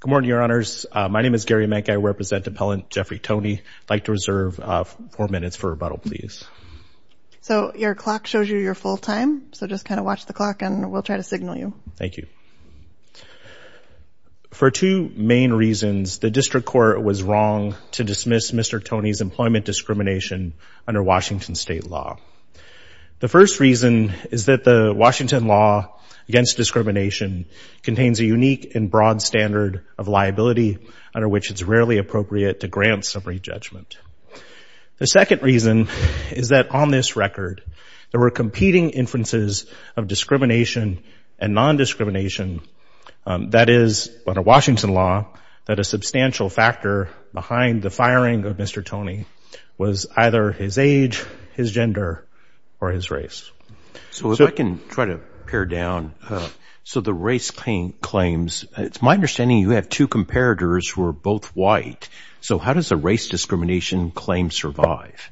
Good morning, Your Honors. My name is Gary Menke. I represent Appellant Jeffrey Toney. I'd like to reserve four minutes for rebuttal, please. So your clock shows you your full time, so just kind of watch the clock and we'll try to signal you. Thank you. For two main reasons, the district court was wrong to dismiss Mr. Toney's employment discrimination under Washington state law. The first reason is that the Washington law against discrimination contains a unique and broad standard of liability under which it's rarely appropriate to grant summary judgment. The second reason is that on this record, there were competing inferences of discrimination and nondiscrimination. That is, under Washington law, that a substantial factor behind the firing of Mr. Toney was either his age, his gender, or his race. So if I can try to pare down, so the race claims, it's my understanding you have two comparators who are both white. So how does the race discrimination claim survive?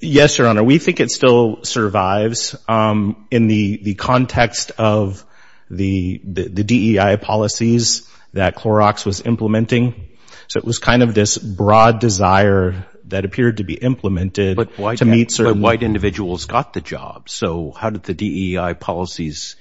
Yes, Your Honor, we think it still survives in the context of the DEI policies that Clorox was implementing. So it was kind of this broad desire that appeared to be implemented to meet certain... But white individuals got the job, so how did the DEI policies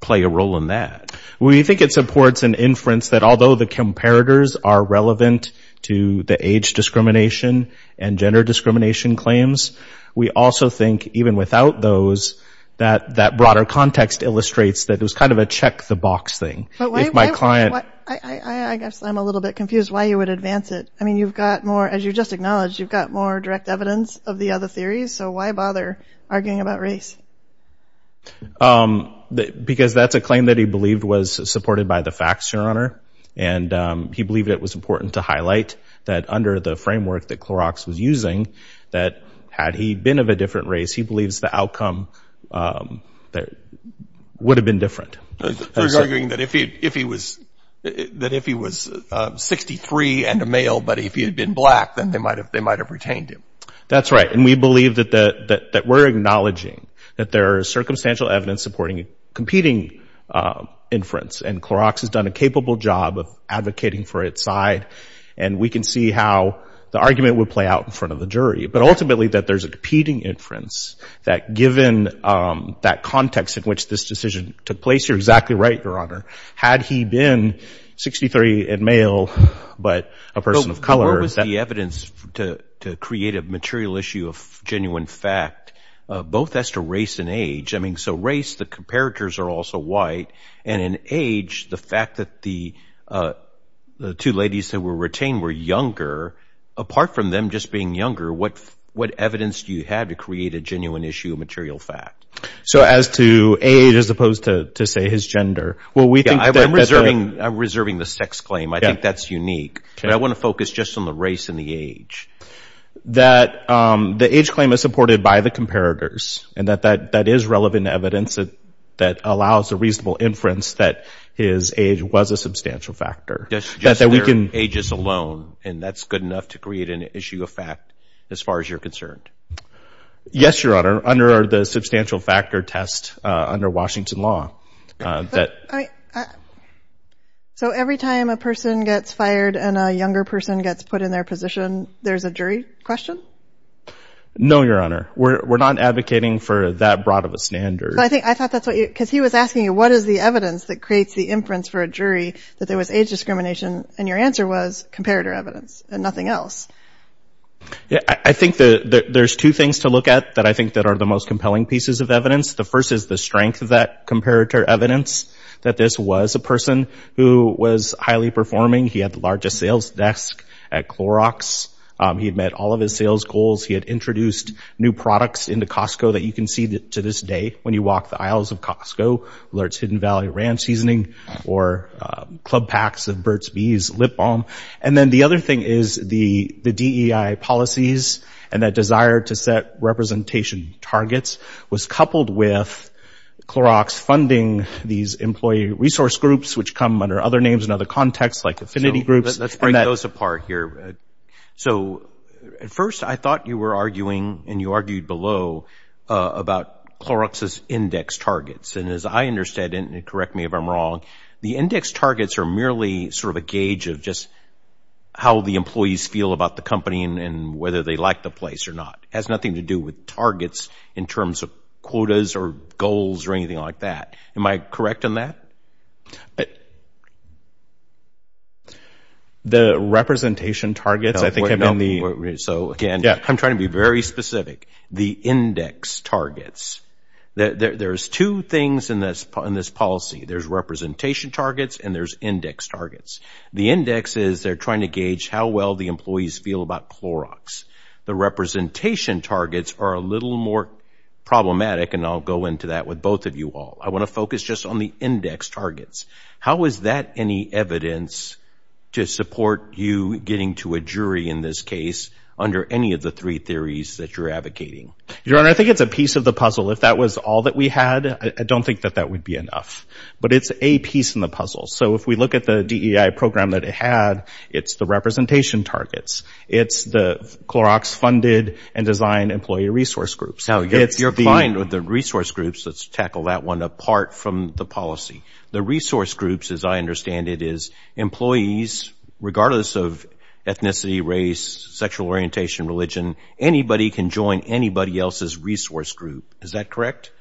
play a role in that? We think it supports an inference that although the comparators are relevant to the age discrimination and gender discrimination claims, we also think even without those, that that broader context illustrates that it was kind of a check the box thing. I guess I'm a little bit confused why you would advance it. I mean, you've got more, as you just acknowledged, you've got more direct evidence of the other theories, so why bother arguing about race? Because that's a claim that he believed was supported by the facts, Your Honor, and he believed it was important to highlight that under the framework that Clorox was using, that had he been of a different race, he believes the outcome would have been different. So he's arguing that if he was 63 and a male, but if he had been black, then they might have retained him. That's right, and we believe that we're acknowledging that there is circumstantial evidence supporting competing inference, and Clorox has done a capable job of advocating for its side, and we can see how the argument would play out in front of the jury. But ultimately, that there's a competing inference, that given that context in which this decision took place, you're exactly right, Your Honor, had he been 63 and male, but a person of color... The material issue of genuine fact, both as to race and age, I mean, so race, the comparators are also white, and in age, the fact that the two ladies that were retained were younger, apart from them just being younger, what evidence do you have to create a genuine issue of material fact? So as to age as opposed to, say, his gender? I'm reserving the sex claim. I think that's unique, but I want to focus just on the race and the age. That the age claim is supported by the comparators, and that that is relevant evidence that allows a reasonable inference that his age was a substantial factor. Just their ages alone, and that's good enough to create an issue of fact as far as you're concerned? Yes, Your Honor, under the substantial factor test under Washington law. So every time a person gets fired and a younger person gets put in their position, there's a jury question? No, Your Honor. We're not advocating for that broad of a standard. I thought that's what you... because he was asking you, what is the evidence that creates the inference for a jury that there was age discrimination, and your answer was comparator evidence and nothing else. I think that there's two things to look at that I think that are the most compelling pieces of evidence. The first is the strength of that comparator evidence, that this was a person who was highly performing. He had the largest sales desk at Clorox. He had met all of his sales goals. He had introduced new products into Costco that you can see to this day when you walk the aisles of Costco. Lurts Hidden Valley Ranch Seasoning or Club Packs of Burt's Bees lip balm. And then the other thing is the DEI policies and that desire to set representation targets was coupled with Clorox funding these employee resource groups, which come under other names and other contexts like affinity groups. Let's break those apart here. So at first I thought you were arguing and you argued below about Clorox's index targets. And as I understand it, and correct me if I'm wrong, the index targets are merely sort of a gauge of just how the employees feel about the company and whether they like the place or not. It has nothing to do with targets in terms of quotas or goals or anything like that. Am I correct on that? The representation targets I think have been the... So again, I'm trying to be very specific. The index targets, there's two things in this policy. There's representation targets and there's index targets. The index is they're trying to gauge how well the employees feel about Clorox. The representation targets are a little more problematic, and I'll go into that with both of you all. I want to focus just on the index targets. How is that any evidence to support you getting to a jury in this case under any of the three theories that you're advocating? Your Honor, I think it's a piece of the puzzle. If that was all that we had, I don't think that that would be enough. But it's a piece in the puzzle. So if we look at the DEI program that it had, it's the representation targets. It's the Clorox-funded and designed employee resource groups. Now, you're fine with the resource groups. Let's tackle that one apart from the policy. The resource groups, as I understand it, is employees, regardless of ethnicity, race, sexual orientation, religion, anybody can join anybody else's resource group. Is that correct?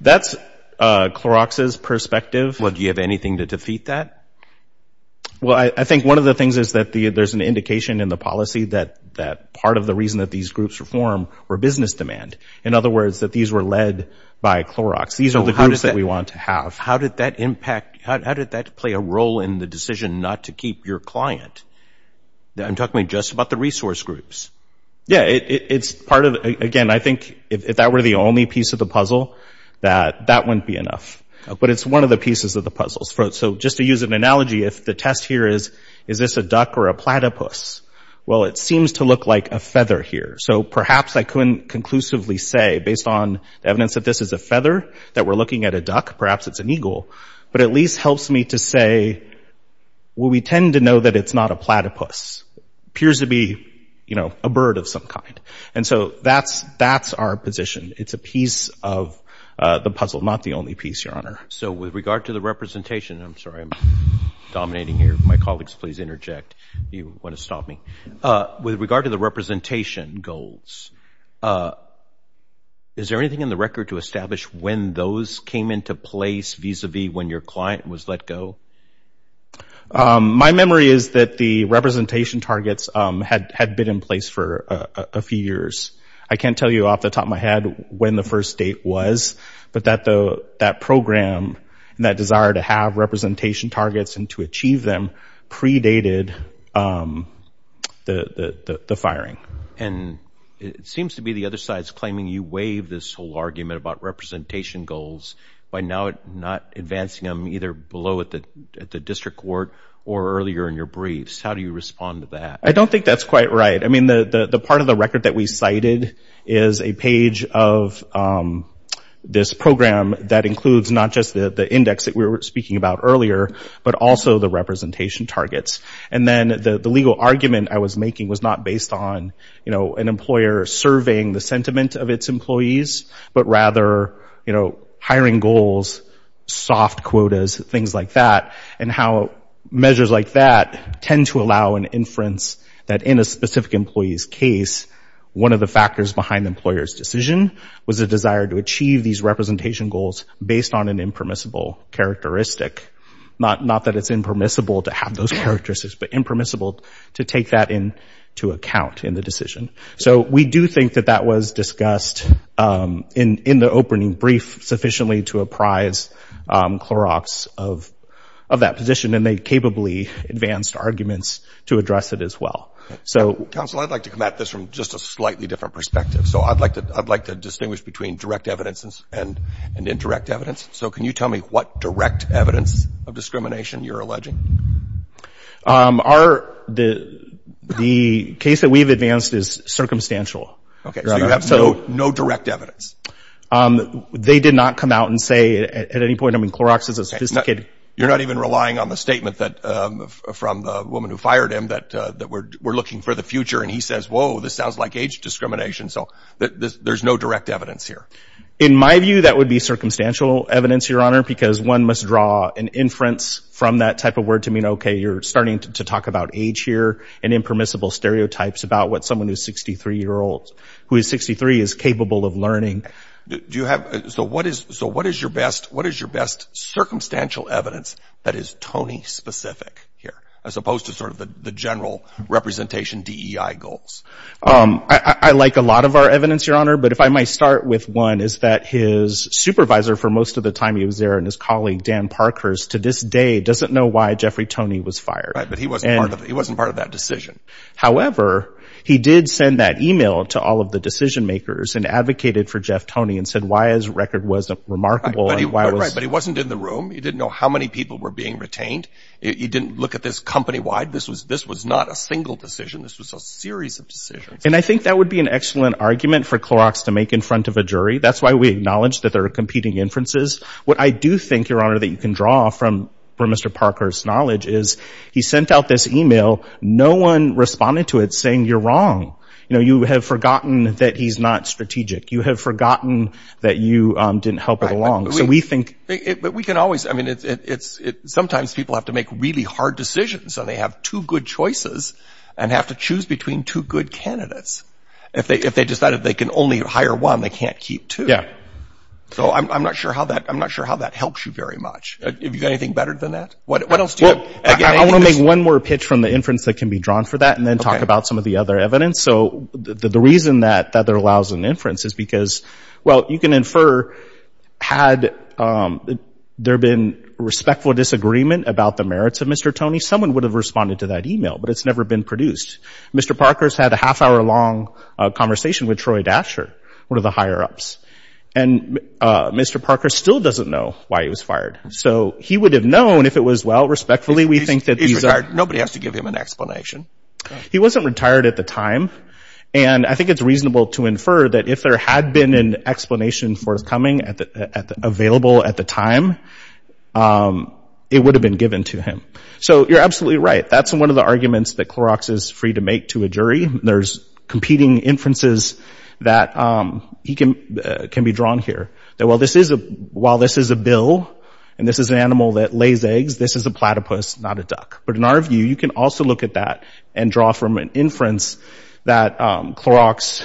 That's Clorox's perspective. Well, do you have anything to defeat that? Well, I think one of the things is that there's an indication in the policy that part of the reason that these groups were formed were business demand. In other words, that these were led by Clorox. These are the groups that we want to have. How did that impact? How did that play a role in the decision not to keep your client? I'm talking just about the resource groups. Yeah, it's part of, again, I think if that were the only piece of the puzzle, that that wouldn't be enough. But it's one of the pieces of the puzzles. So just to use an analogy, if the test here is, is this a duck or a platypus? Well, it seems to look like a feather here. So perhaps I couldn't conclusively say, based on the evidence that this is a feather, that we're looking at a duck. Perhaps it's an eagle. But it at least helps me to say, well, we tend to know that it's not a platypus. It appears to be a bird of some kind. And so that's our position. It's a piece of the puzzle, not the only piece, Your Honor. So with regard to the representation, I'm sorry, I'm dominating here. My colleagues, please interject if you want to stop me. With regard to the representation goals, is there anything in the record to establish when those came into place, vis-a-vis when your client was let go? My memory is that the representation targets had been in place for a few years. I can't tell you off the top of my head when the first date was, but that program and that desire to have representation targets and to achieve them predated the firing. And it seems to be the other side is claiming you waived this whole argument about representation goals by not advancing them either below at the district court or earlier in your briefs. How do you respond to that? I don't think that's quite right. I mean, the part of the record that we cited is a page of this program that includes not just the index that we were speaking about earlier, but also the representation targets. And then the legal argument I was making was not based on, you know, an employer surveying the sentiment of its employees, but rather, you know, hiring goals, soft quotas, things like that, and how measures like that tend to allow an inference that in a specific employee's case, one of the factors behind the employer's decision was a desire to achieve these representation goals based on an impermissible characteristic. Not that it's impermissible to have those characteristics, but impermissible to take that into account in the decision. So we do think that that was discussed in the opening brief sufficiently to apprise Clorox of that position, and they capably advanced arguments to address it as well. Counsel, I'd like to come at this from just a slightly different perspective. So I'd like to distinguish between direct evidence and indirect evidence. So can you tell me what direct evidence of discrimination you're alleging? The case that we've advanced is circumstantial. Okay, so you have no direct evidence. They did not come out and say at any point, I mean, Clorox is a sophisticated— You're not even relying on the statement from the woman who fired him that we're looking for the future, and he says, whoa, this sounds like age discrimination. So there's no direct evidence here. In my view, that would be circumstantial evidence, Your Honor, because one must draw an inference from that type of word to mean, okay, you're starting to talk about age here and impermissible stereotypes about what someone who is 63 is capable of learning. So what is your best circumstantial evidence that is Tony-specific here, as opposed to sort of the general representation DEI goals? I like a lot of our evidence, Your Honor, but if I might start with one, is that his supervisor for most of the time he was there and his colleague, Dan Parkhurst, to this day doesn't know why Jeffrey Tony was fired. Right, but he wasn't part of that decision. However, he did send that e-mail to all of the decision-makers and advocated for Jeff Tony and said why his record wasn't remarkable. Right, but he wasn't in the room. He didn't know how many people were being retained. He didn't look at this company-wide. This was not a single decision. This was a series of decisions. And I think that would be an excellent argument for Clorox to make in front of a jury. That's why we acknowledge that there are competing inferences. What I do think, Your Honor, that you can draw from Mr. Parkhurst's knowledge is he sent out this e-mail. No one responded to it saying you're wrong. You know, you have forgotten that he's not strategic. You have forgotten that you didn't help it along. So we think— But we can always—I mean, sometimes people have to make really hard decisions and they have two good choices and have to choose between two good candidates. If they decided they can only hire one, they can't keep two. Yeah. So I'm not sure how that helps you very much. Have you got anything better than that? What else do you have? I want to make one more pitch from the inference that can be drawn for that and then talk about some of the other evidence. So the reason that there allows an inference is because, well, you can infer had there been respectful disagreement about the merits of Mr. Tony, someone would have responded to that e-mail, but it's never been produced. Mr. Parkhurst had a half-hour-long conversation with Troy Dasher, one of the higher-ups. And Mr. Parkhurst still doesn't know why he was fired. So he would have known if it was, well, respectfully, we think that these are— He's retired. Nobody has to give him an explanation. He wasn't retired at the time, and I think it's reasonable to infer that if there had been an explanation forthcoming available at the time, it would have been given to him. So you're absolutely right. That's one of the arguments that Clorox is free to make to a jury. There's competing inferences that can be drawn here, that while this is a bill and this is an animal that lays eggs, this is a platypus, not a duck. But in our view, you can also look at that and draw from an inference that Clorox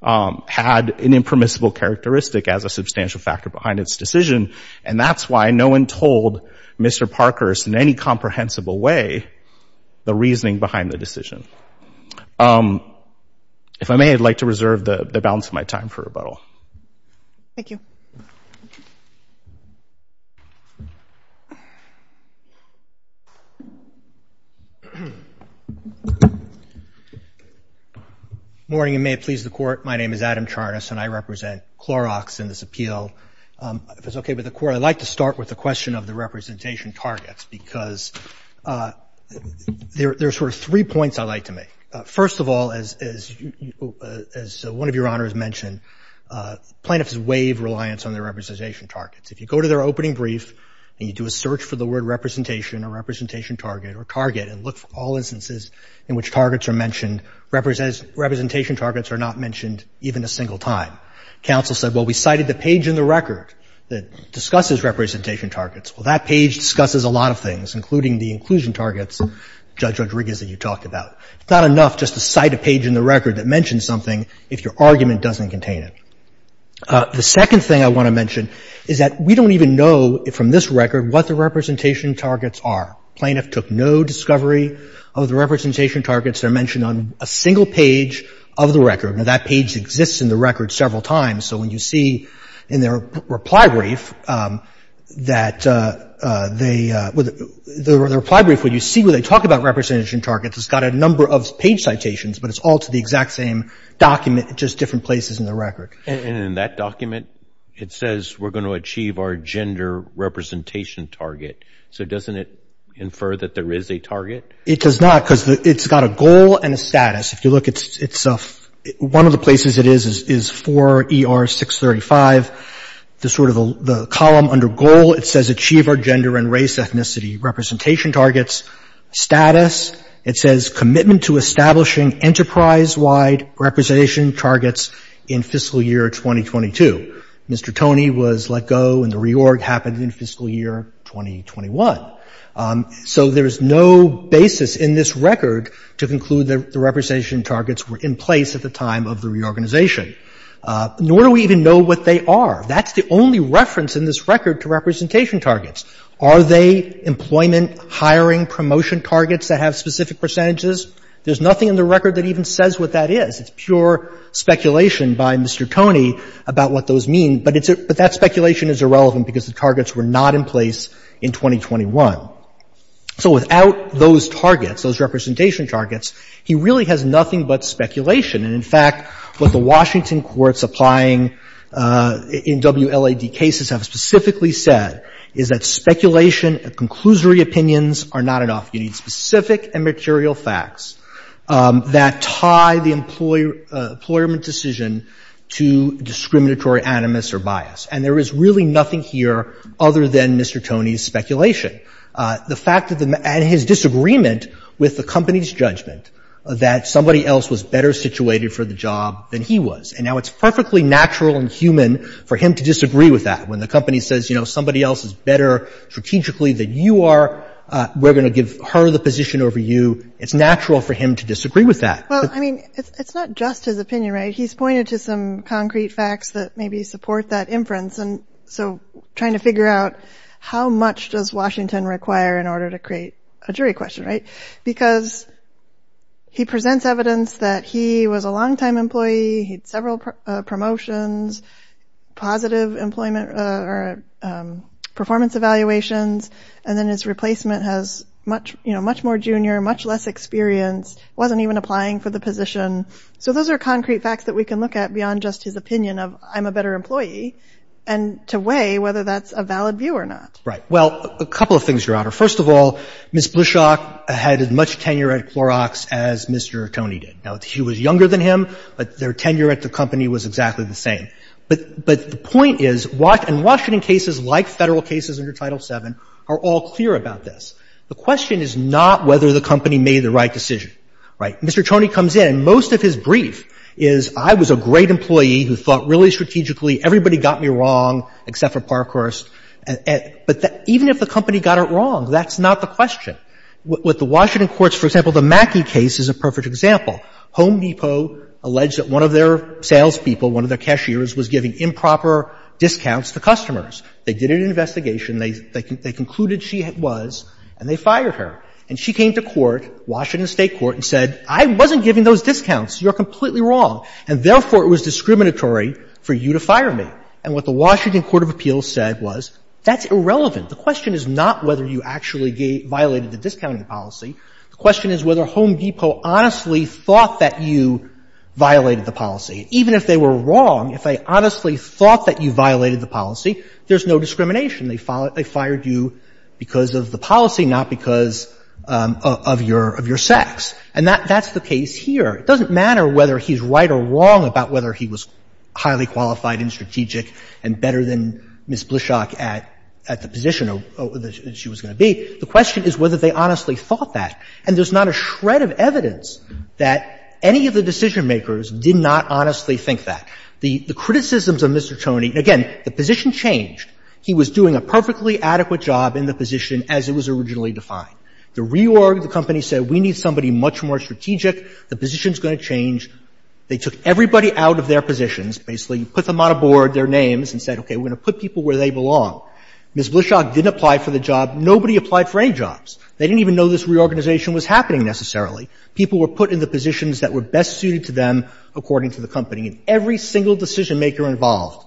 had an impermissible characteristic as a substantial factor behind its decision, and that's why no one told Mr. Parkhurst in any comprehensible way the reasoning behind the decision. If I may, I'd like to reserve the balance of my time for rebuttal. Thank you. Good morning, and may it please the Court. My name is Adam Charnas, and I represent Clorox in this appeal. If it's okay with the Court, I'd like to start with the question of the representation targets, because there are sort of three points I'd like to make. First of all, as one of Your Honors mentioned, plaintiffs waive reliance on their representation targets. If you go to their opening brief and you do a search for the word representation or representation target or target and look for all instances in which targets are mentioned, representation targets are not mentioned even a single time. Counsel said, well, we cited the page in the record that discusses representation targets. Well, that page discusses a lot of things, including the inclusion targets, Judge Rodriguez, that you talked about. It's not enough just to cite a page in the record that mentions something if your argument doesn't contain it. The second thing I want to mention is that we don't even know from this record what the representation targets are. Plaintiff took no discovery of the representation targets that are mentioned on a single page of the record. Now, that page exists in the record several times. So when you see in their reply brief that they – the reply brief, when you see where they talk about representation targets, it's got a number of page citations, but it's all to the exact same document, just different places in the record. And in that document, it says we're going to achieve our gender representation target. So doesn't it infer that there is a target? It does not, because it's got a goal and a status. If you look, it's – one of the places it is is 4ER635, the sort of the column under goal. It says achieve our gender and race ethnicity representation targets. Status, it says commitment to establishing enterprise-wide representation targets in fiscal year 2022. Mr. Toney was let go, and the reorg happened in fiscal year 2021. So there is no basis in this record to conclude that the representation targets were in place at the time of the reorganization. Nor do we even know what they are. That's the only reference in this record to representation targets. Are they employment hiring promotion targets that have specific percentages? There's nothing in the record that even says what that is. It's pure speculation by Mr. Toney about what those mean. But it's – but that speculation is irrelevant because the targets were not in place in 2021. So without those targets, those representation targets, he really has nothing but speculation. And in fact, what the Washington courts applying in WLAD cases have specifically said is that speculation and conclusory opinions are not enough. You need specific and material facts that tie the employment decision to discriminatory or anonymous or biased. And there is really nothing here other than Mr. Toney's speculation. The fact that the – and his disagreement with the company's judgment that somebody else was better situated for the job than he was. And now it's perfectly natural and human for him to disagree with that. When the company says, you know, somebody else is better strategically than you are, we're going to give her the position over you, it's natural for him to disagree with that. Well, I mean, it's not just his opinion, right? He's pointed to some concrete facts that maybe support that inference. And so trying to figure out how much does Washington require in order to create a jury question, right? Because he presents evidence that he was a longtime employee. He had several promotions, positive employment or performance evaluations. And then his replacement has much, you know, much more junior, much less experience. Wasn't even applying for the position. So those are concrete facts that we can look at beyond just his opinion of I'm a better employee and to weigh whether that's a valid view or not. Well, a couple of things, Your Honor. First of all, Ms. Bluchok had as much tenure at Clorox as Mr. Toney did. Now, she was younger than him, but their tenure at the company was exactly the same. But the point is, in Washington cases like Federal cases under Title VII are all clear about this. The question is not whether the company made the right decision, right? Mr. Toney comes in. Most of his brief is, I was a great employee who thought really strategically. Everybody got me wrong except for Parkhurst. But even if the company got it wrong, that's not the question. With the Washington courts, for example, the Mackey case is a perfect example. Home Depot alleged that one of their salespeople, one of their cashiers, was giving improper discounts to customers. They did an investigation. They concluded she was, and they fired her. And she came to court, Washington State court, and said, I wasn't giving those discounts. You're completely wrong. And therefore, it was discriminatory for you to fire me. And what the Washington court of appeals said was, that's irrelevant. The question is not whether you actually violated the discounting policy. The question is whether Home Depot honestly thought that you violated the policy. Even if they were wrong, if they honestly thought that you violated the policy, there's no discrimination. They fired you because of the policy, not because of your sex. And that's the case here. It doesn't matter whether he's right or wrong about whether he was highly qualified and strategic and better than Ms. Blishock at the position that she was going to be. The question is whether they honestly thought that. And there's not a shred of evidence that any of the decision-makers did not honestly think that. The criticisms of Mr. Tony, again, the position changed. He was doing a perfectly adequate job in the position as it was originally defined. The reorg, the company said, we need somebody much more strategic. The position's going to change. They took everybody out of their positions, basically put them on a board, their names, and said, okay, we're going to put people where they belong. Ms. Blishock didn't apply for the job. Nobody applied for any jobs. They didn't even know this reorganization was happening necessarily. People were put in the positions that were best suited to them, according to the company. And every single decision-maker involved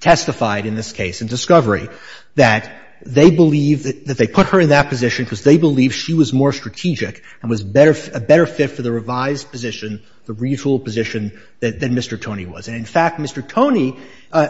testified in this case, in discovery, that they believe that they put her in that position because they believe she was more strategic and was a better fit for the revised position, the regional position, than Mr. Tony was. And, in fact, Mr. Tony,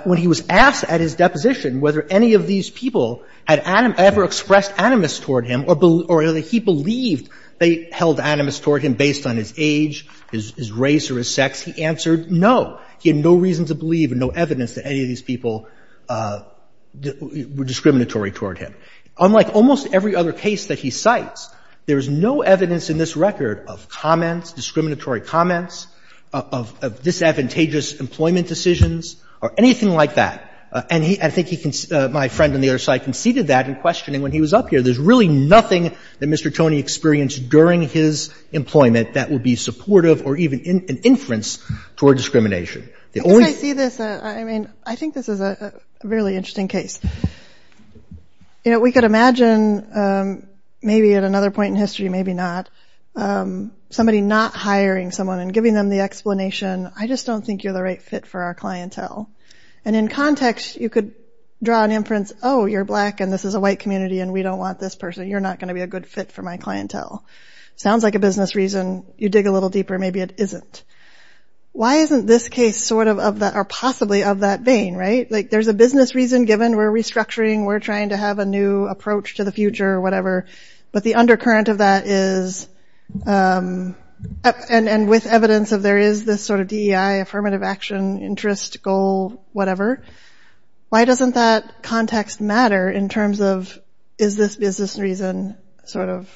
when he was asked at his deposition whether any of these people had ever expressed animus toward him or whether he believed they held animus toward him based on his age, his race or his sex, he answered no. He had no reason to believe and no evidence that any of these people were discriminatory toward him. Unlike almost every other case that he cites, there is no evidence in this record of comments, discriminatory comments, of disadvantageous employment decisions or anything like that. And he — I think he — my friend on the other side conceded that in questioning when he was up here. There's really nothing that Mr. Tony experienced during his employment that would be supportive or even an inference toward discrimination. The only — I see this — I mean, I think this is a really interesting case. You know, we could imagine, maybe at another point in history, maybe not, somebody not hiring someone and giving them the explanation, I just don't think you're the right fit for our clientele. And in context, you could draw an inference, oh, you're black and this is a white community and we don't want this person. You're not going to be a good fit for my clientele. Sounds like a business reason. You dig a little deeper. Maybe it isn't. Why isn't this case sort of — or possibly of that vein, right? Like there's a business reason given. We're restructuring. We're trying to have a new approach to the future or whatever. But the undercurrent of that is — and with evidence of there is this sort of DEI, affirmative action, interest, goal, whatever, why doesn't that context matter in terms of is this business reason sort of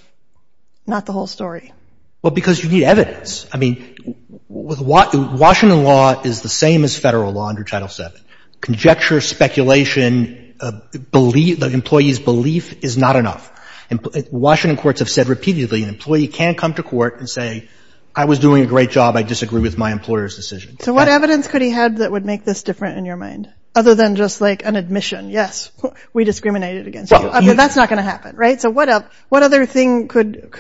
not the whole story? Well, because you need evidence. I mean, Washington law is the same as federal law under Title VII. Conjecture, speculation, the employee's belief is not enough. Washington courts have said repeatedly an employee can come to court and say, I was doing a great job, I disagree with my employer's decision. So what evidence could he have that would make this different in your mind, other than just like an admission? Yes, we discriminated against you. I mean, that's not going to happen, right? So what other thing could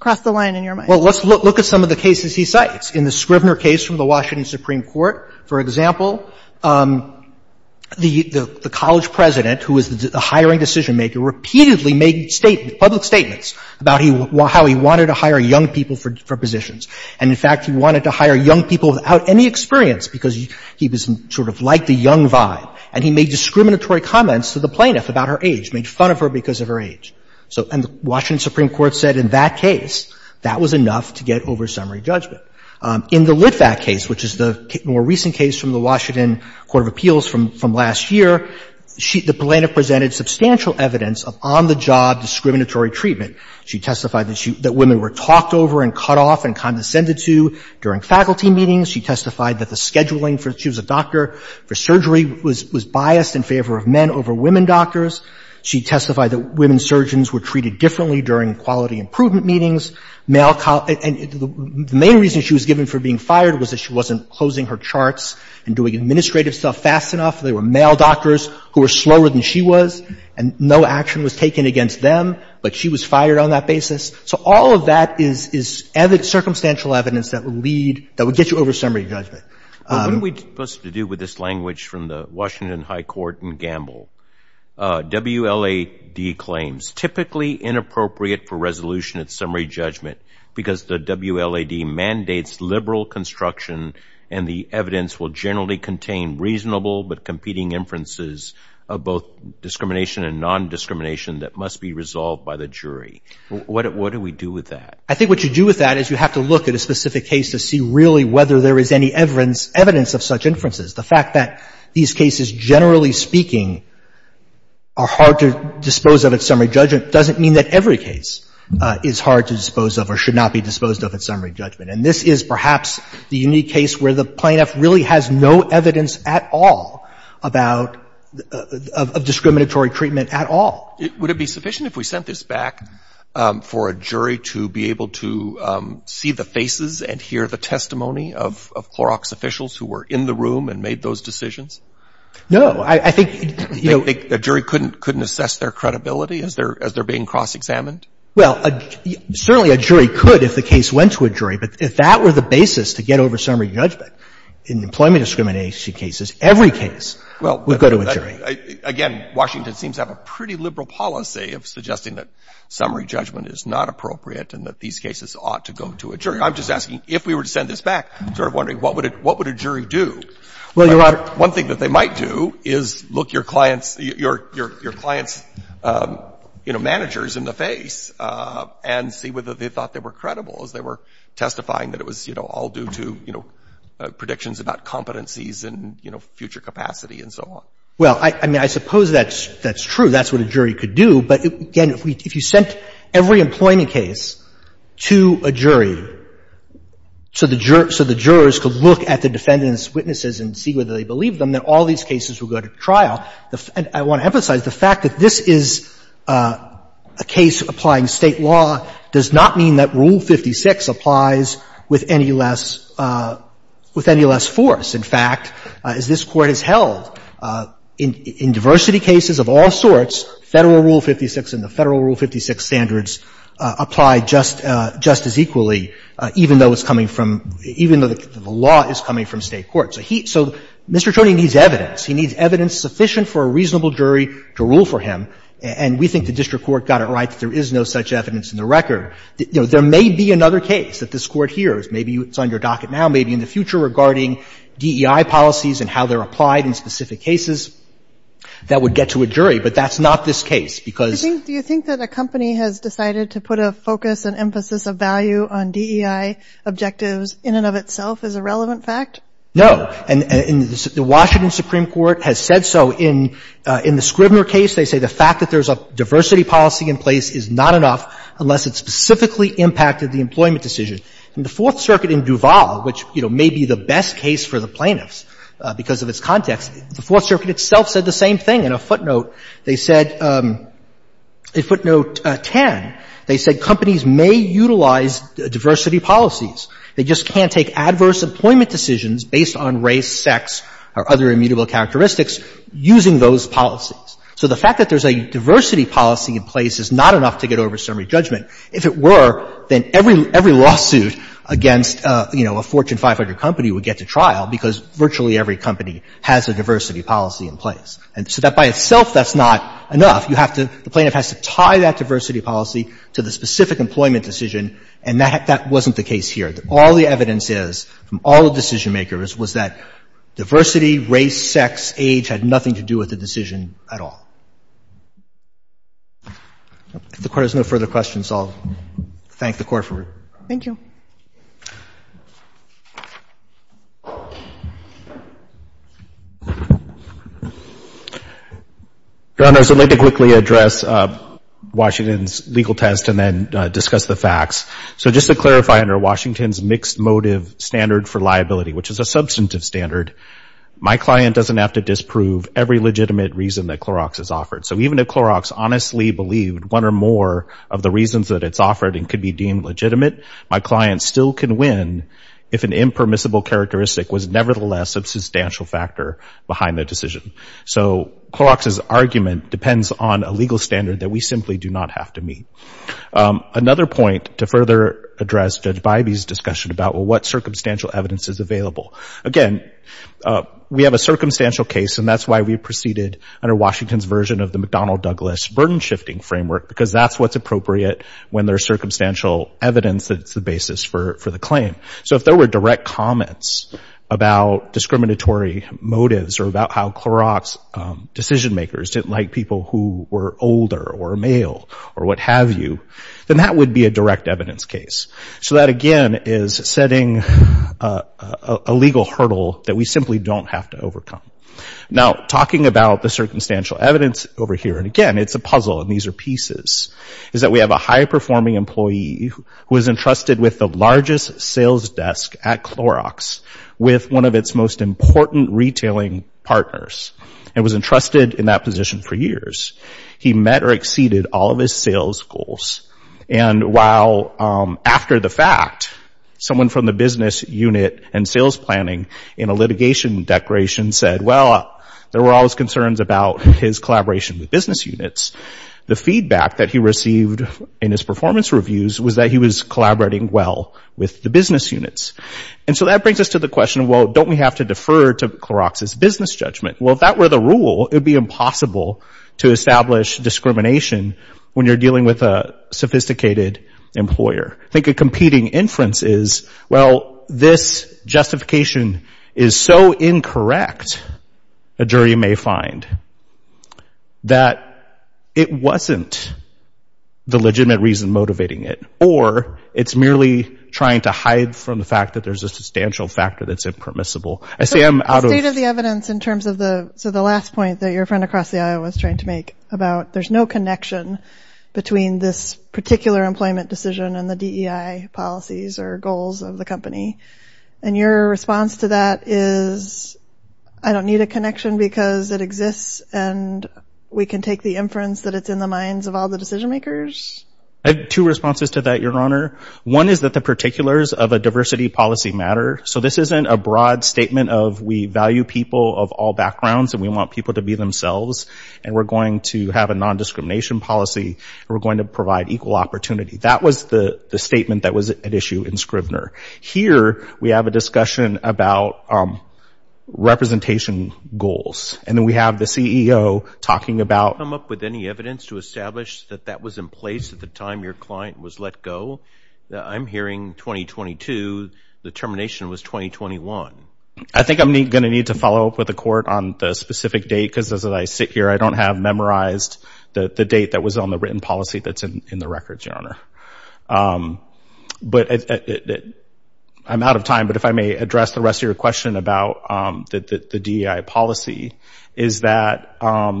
cross the line in your mind? Well, let's look at some of the cases he cites. In the Scrivener case from the Washington Supreme Court, for example, the college president, who was the hiring decision-maker, repeatedly made public statements about how he wanted to hire young people for positions. And, in fact, he wanted to hire young people without any experience because he was sort of like the young vibe. And he made discriminatory comments to the plaintiff about her age, made fun of her because of her age. And the Washington Supreme Court said in that case, that was enough to get over summary judgment. In the Litvac case, which is the more recent case from the Washington Court of Appeals from last year, the plaintiff presented substantial evidence of on-the-job discriminatory treatment. She testified that women were talked over and cut off and condescended to during faculty meetings. She testified that the scheduling for, she was a doctor for surgery, was biased in favor of men over women doctors. She testified that women surgeons were treated differently during quality improvement meetings. And the main reason she was given for being fired was that she wasn't closing her charts and doing administrative stuff fast enough. They were male doctors who were slower than she was, and no action was taken against them. But she was fired on that basis. So all of that is circumstantial evidence that would lead, that would get you over summary judgment. What are we supposed to do with this language from the Washington High Court and Gamble? WLAD claims, typically inappropriate for resolution at summary judgment because the WLAD mandates liberal construction and the evidence will generally contain reasonable but competing inferences of both discrimination and non-discrimination that must be resolved by the jury. What do we do with that? I think what you do with that is you have to look at a specific case to see really whether there is any evidence of such inferences. The fact that these cases, generally speaking, are hard to dispose of at summary judgment doesn't mean that every case is hard to dispose of or should not be disposed of at summary judgment. And this is perhaps the unique case where the plaintiff really has no evidence at all about, of discriminatory treatment at all. Would it be sufficient if we sent this back for a jury to be able to see the faces and hear the testimony of Clorox officials who were in the room and made those decisions? I think, you know — A jury couldn't assess their credibility as they're being cross-examined? Well, certainly a jury could if the case went to a jury, but if that were the basis to get over summary judgment in employment discrimination cases, every case would go to a jury. Again, Washington seems to have a pretty liberal policy of suggesting that summary judgment is not appropriate and that these cases ought to go to a jury. I'm just asking, if we were to send this back, I'm sort of wondering, what would a jury do? Well, Your Honor — One thing that they might do is look your clients' — your clients' managers in the face and see whether they thought they were credible as they were testifying that it was, you know, all due to, you know, predictions about competencies and, you know, future capacity and so on. Well, I mean, I suppose that's true. That's what a jury could do. But, again, if you sent every employment case to a jury so the jurors could look at the defendant's witnesses and see whether they believed them, then all these cases would go to trial. I want to emphasize the fact that this is a case applying State law does not mean that Rule 56 applies with any less — with any less force. In fact, as this Court has held, in diversity cases of all sorts, Federal Rule 56 and the Federal Rule 56 standards apply just — just as equally, even though it's coming from — even though the law is coming from State court. So he — so Mr. Troni needs evidence. He needs evidence sufficient for a reasonable jury to rule for him, and we think the district court got it right that there is no such evidence in the record. There may be another case that this Court hears, maybe it's on your docket now, maybe in the future regarding DEI policies and how they're applied in specific cases, that would get to a jury. But that's not this case, because — Do you think that a company has decided to put a focus and emphasis of value on DEI objectives in and of itself as a relevant fact? No. And the Washington Supreme Court has said so. In the Scribner case, they say the fact that there's a diversity policy in place is not enough unless it specifically impacted the employment decision. In the Fourth Circuit in Duval, which, you know, may be the best case for the plaintiffs because of its context, the Fourth Circuit itself said the same thing. In a footnote, they said — in footnote 10, they said companies may utilize diversity policies. They just can't take adverse employment decisions based on race, sex, or other immutable characteristics using those policies. So the fact that there's a diversity policy in place is not enough to get over summary judgment. If it were, then every lawsuit against, you know, a Fortune 500 company would get to trial because virtually every company has a diversity policy in place. And so that by itself, that's not enough. You have to — the plaintiff has to tie that diversity policy to the specific employment decision. And that wasn't the case here. All the evidence is from all the decision-makers was that diversity, race, sex, age had nothing to do with the decision at all. If the court has no further questions, I'll thank the court for — Thank you. Your Honors, I'd like to quickly address Washington's legal test and then discuss the facts. So just to clarify, under Washington's mixed motive standard for liability, which is a substantive standard, my client doesn't have to disprove every legitimate reason that Clorox has offered. So even if Clorox honestly believed one or more of the reasons that it's offered and could be deemed legitimate, my client still can win if an impermissible characteristic was nevertheless a substantial factor behind the decision. So Clorox's argument depends on a legal standard that we simply do not have to meet. Another point to further address Judge Bybee's discussion about, well, what circumstantial evidence is available. Again, we have a circumstantial case, and that's why we proceeded under Washington's version of the McDonnell-Douglas burden-shifting framework, because that's what's appropriate when there's circumstantial evidence that's the basis for the claim. So if there were direct comments about discriminatory motives or about how Clorox's decision-makers didn't like people who were older or male or what have you, then that would be a direct evidence case. So that, again, is setting a legal hurdle that we simply don't have to Now, talking about the circumstantial evidence over here, and again, it's a puzzle and these are pieces, is that we have a high-performing employee who is entrusted with the largest sales desk at Clorox with one of its most important retailing partners and was entrusted in that position for years. He met or exceeded all of his sales goals. And while after the fact, someone from the business unit and sales planning in a litigation declaration said, well, there were always concerns about his collaboration with business units, the feedback that he received in his performance reviews was that he was collaborating well with the business units. And so that brings us to the question, well, don't we have to defer to Clorox's business judgment? Well, if that were the rule, it would be impossible to establish discrimination when you're dealing with a sophisticated employer. I think a competing inference is, well, this justification is so incorrect, a jury may find, that it wasn't the legitimate reason motivating it. Or it's merely trying to hide from the fact that there's a substantial factor that's impermissible. State of the evidence in terms of the last point that your friend across the aisle was trying to make about there's no connection between this particular employment decision and the DEI policies or goals of the company. And your response to that is, I don't need a connection because it exists and we can take the inference that it's in the minds of all the decision makers? I have two responses to that, Your Honor. One is that the particulars of a diversity policy matter. So this isn't a broad statement of we value people of all backgrounds and we want people to be themselves. And we're going to have a non-discrimination policy. We're going to provide equal opportunity. That was the statement that was at issue in Scrivener. Here, we have a discussion about representation goals. And then we have the CEO talking about... Come up with any evidence to establish that that was in place at the time your client was let go? I'm hearing 2022. The termination was 2021. I think I'm going to need to follow up with the court on the specific date because as I sit here, I don't have memorized the date that was on the written policy that's in the records, Your Honor. But I'm out of time. But if I may address the rest of your question about the DEI policy is that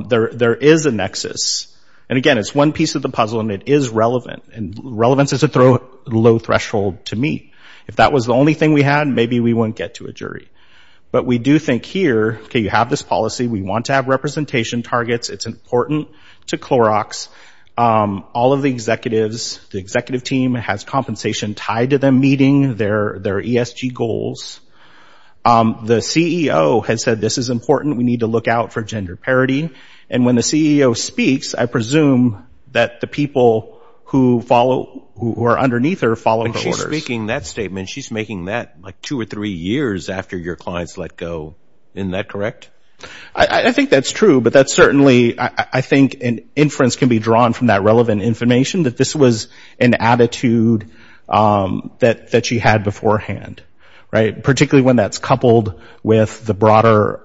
there is a nexus. And again, it's one piece of the puzzle and it is relevant. And relevance is a low threshold to meet. If that was the only thing we had, maybe we wouldn't get to a jury. But we do think here, okay, you have this policy. We want to have representation targets. It's important to Clorox. All of the executives, the executive team has compensation tied to them meeting their ESG goals. The CEO has said this is important. We need to look out for gender parity. And when the CEO speaks, I presume that the people who are underneath her follow the orders. But she's speaking that statement. She's making that like two or three years after your clients let go. Isn't that correct? I think that's true. But that's certainly, I think, an inference can be drawn from that relevant information that this was an attitude that she had beforehand, particularly when that's coupled with the broader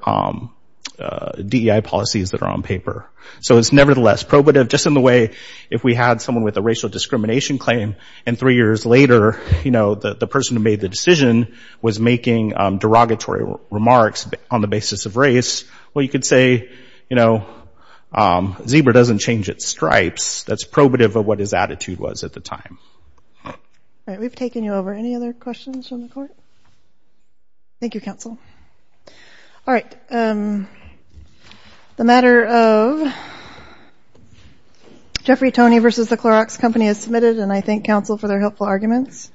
DEI policies that are on paper. So it's nevertheless probative. Just in the way if we had someone with a racial discrimination claim and three years later, you know, the person who made the decision was making derogatory remarks on the basis of race, well, you could say, you know, zebra doesn't change its stripes. That's probative of what his attitude was at the time. All right. We've taken you over. Any other questions from the court? Thank you, counsel. All right. The matter of Jeffrey Toney v. The Clorox Company is submitted, and I thank counsel for their helpful arguments.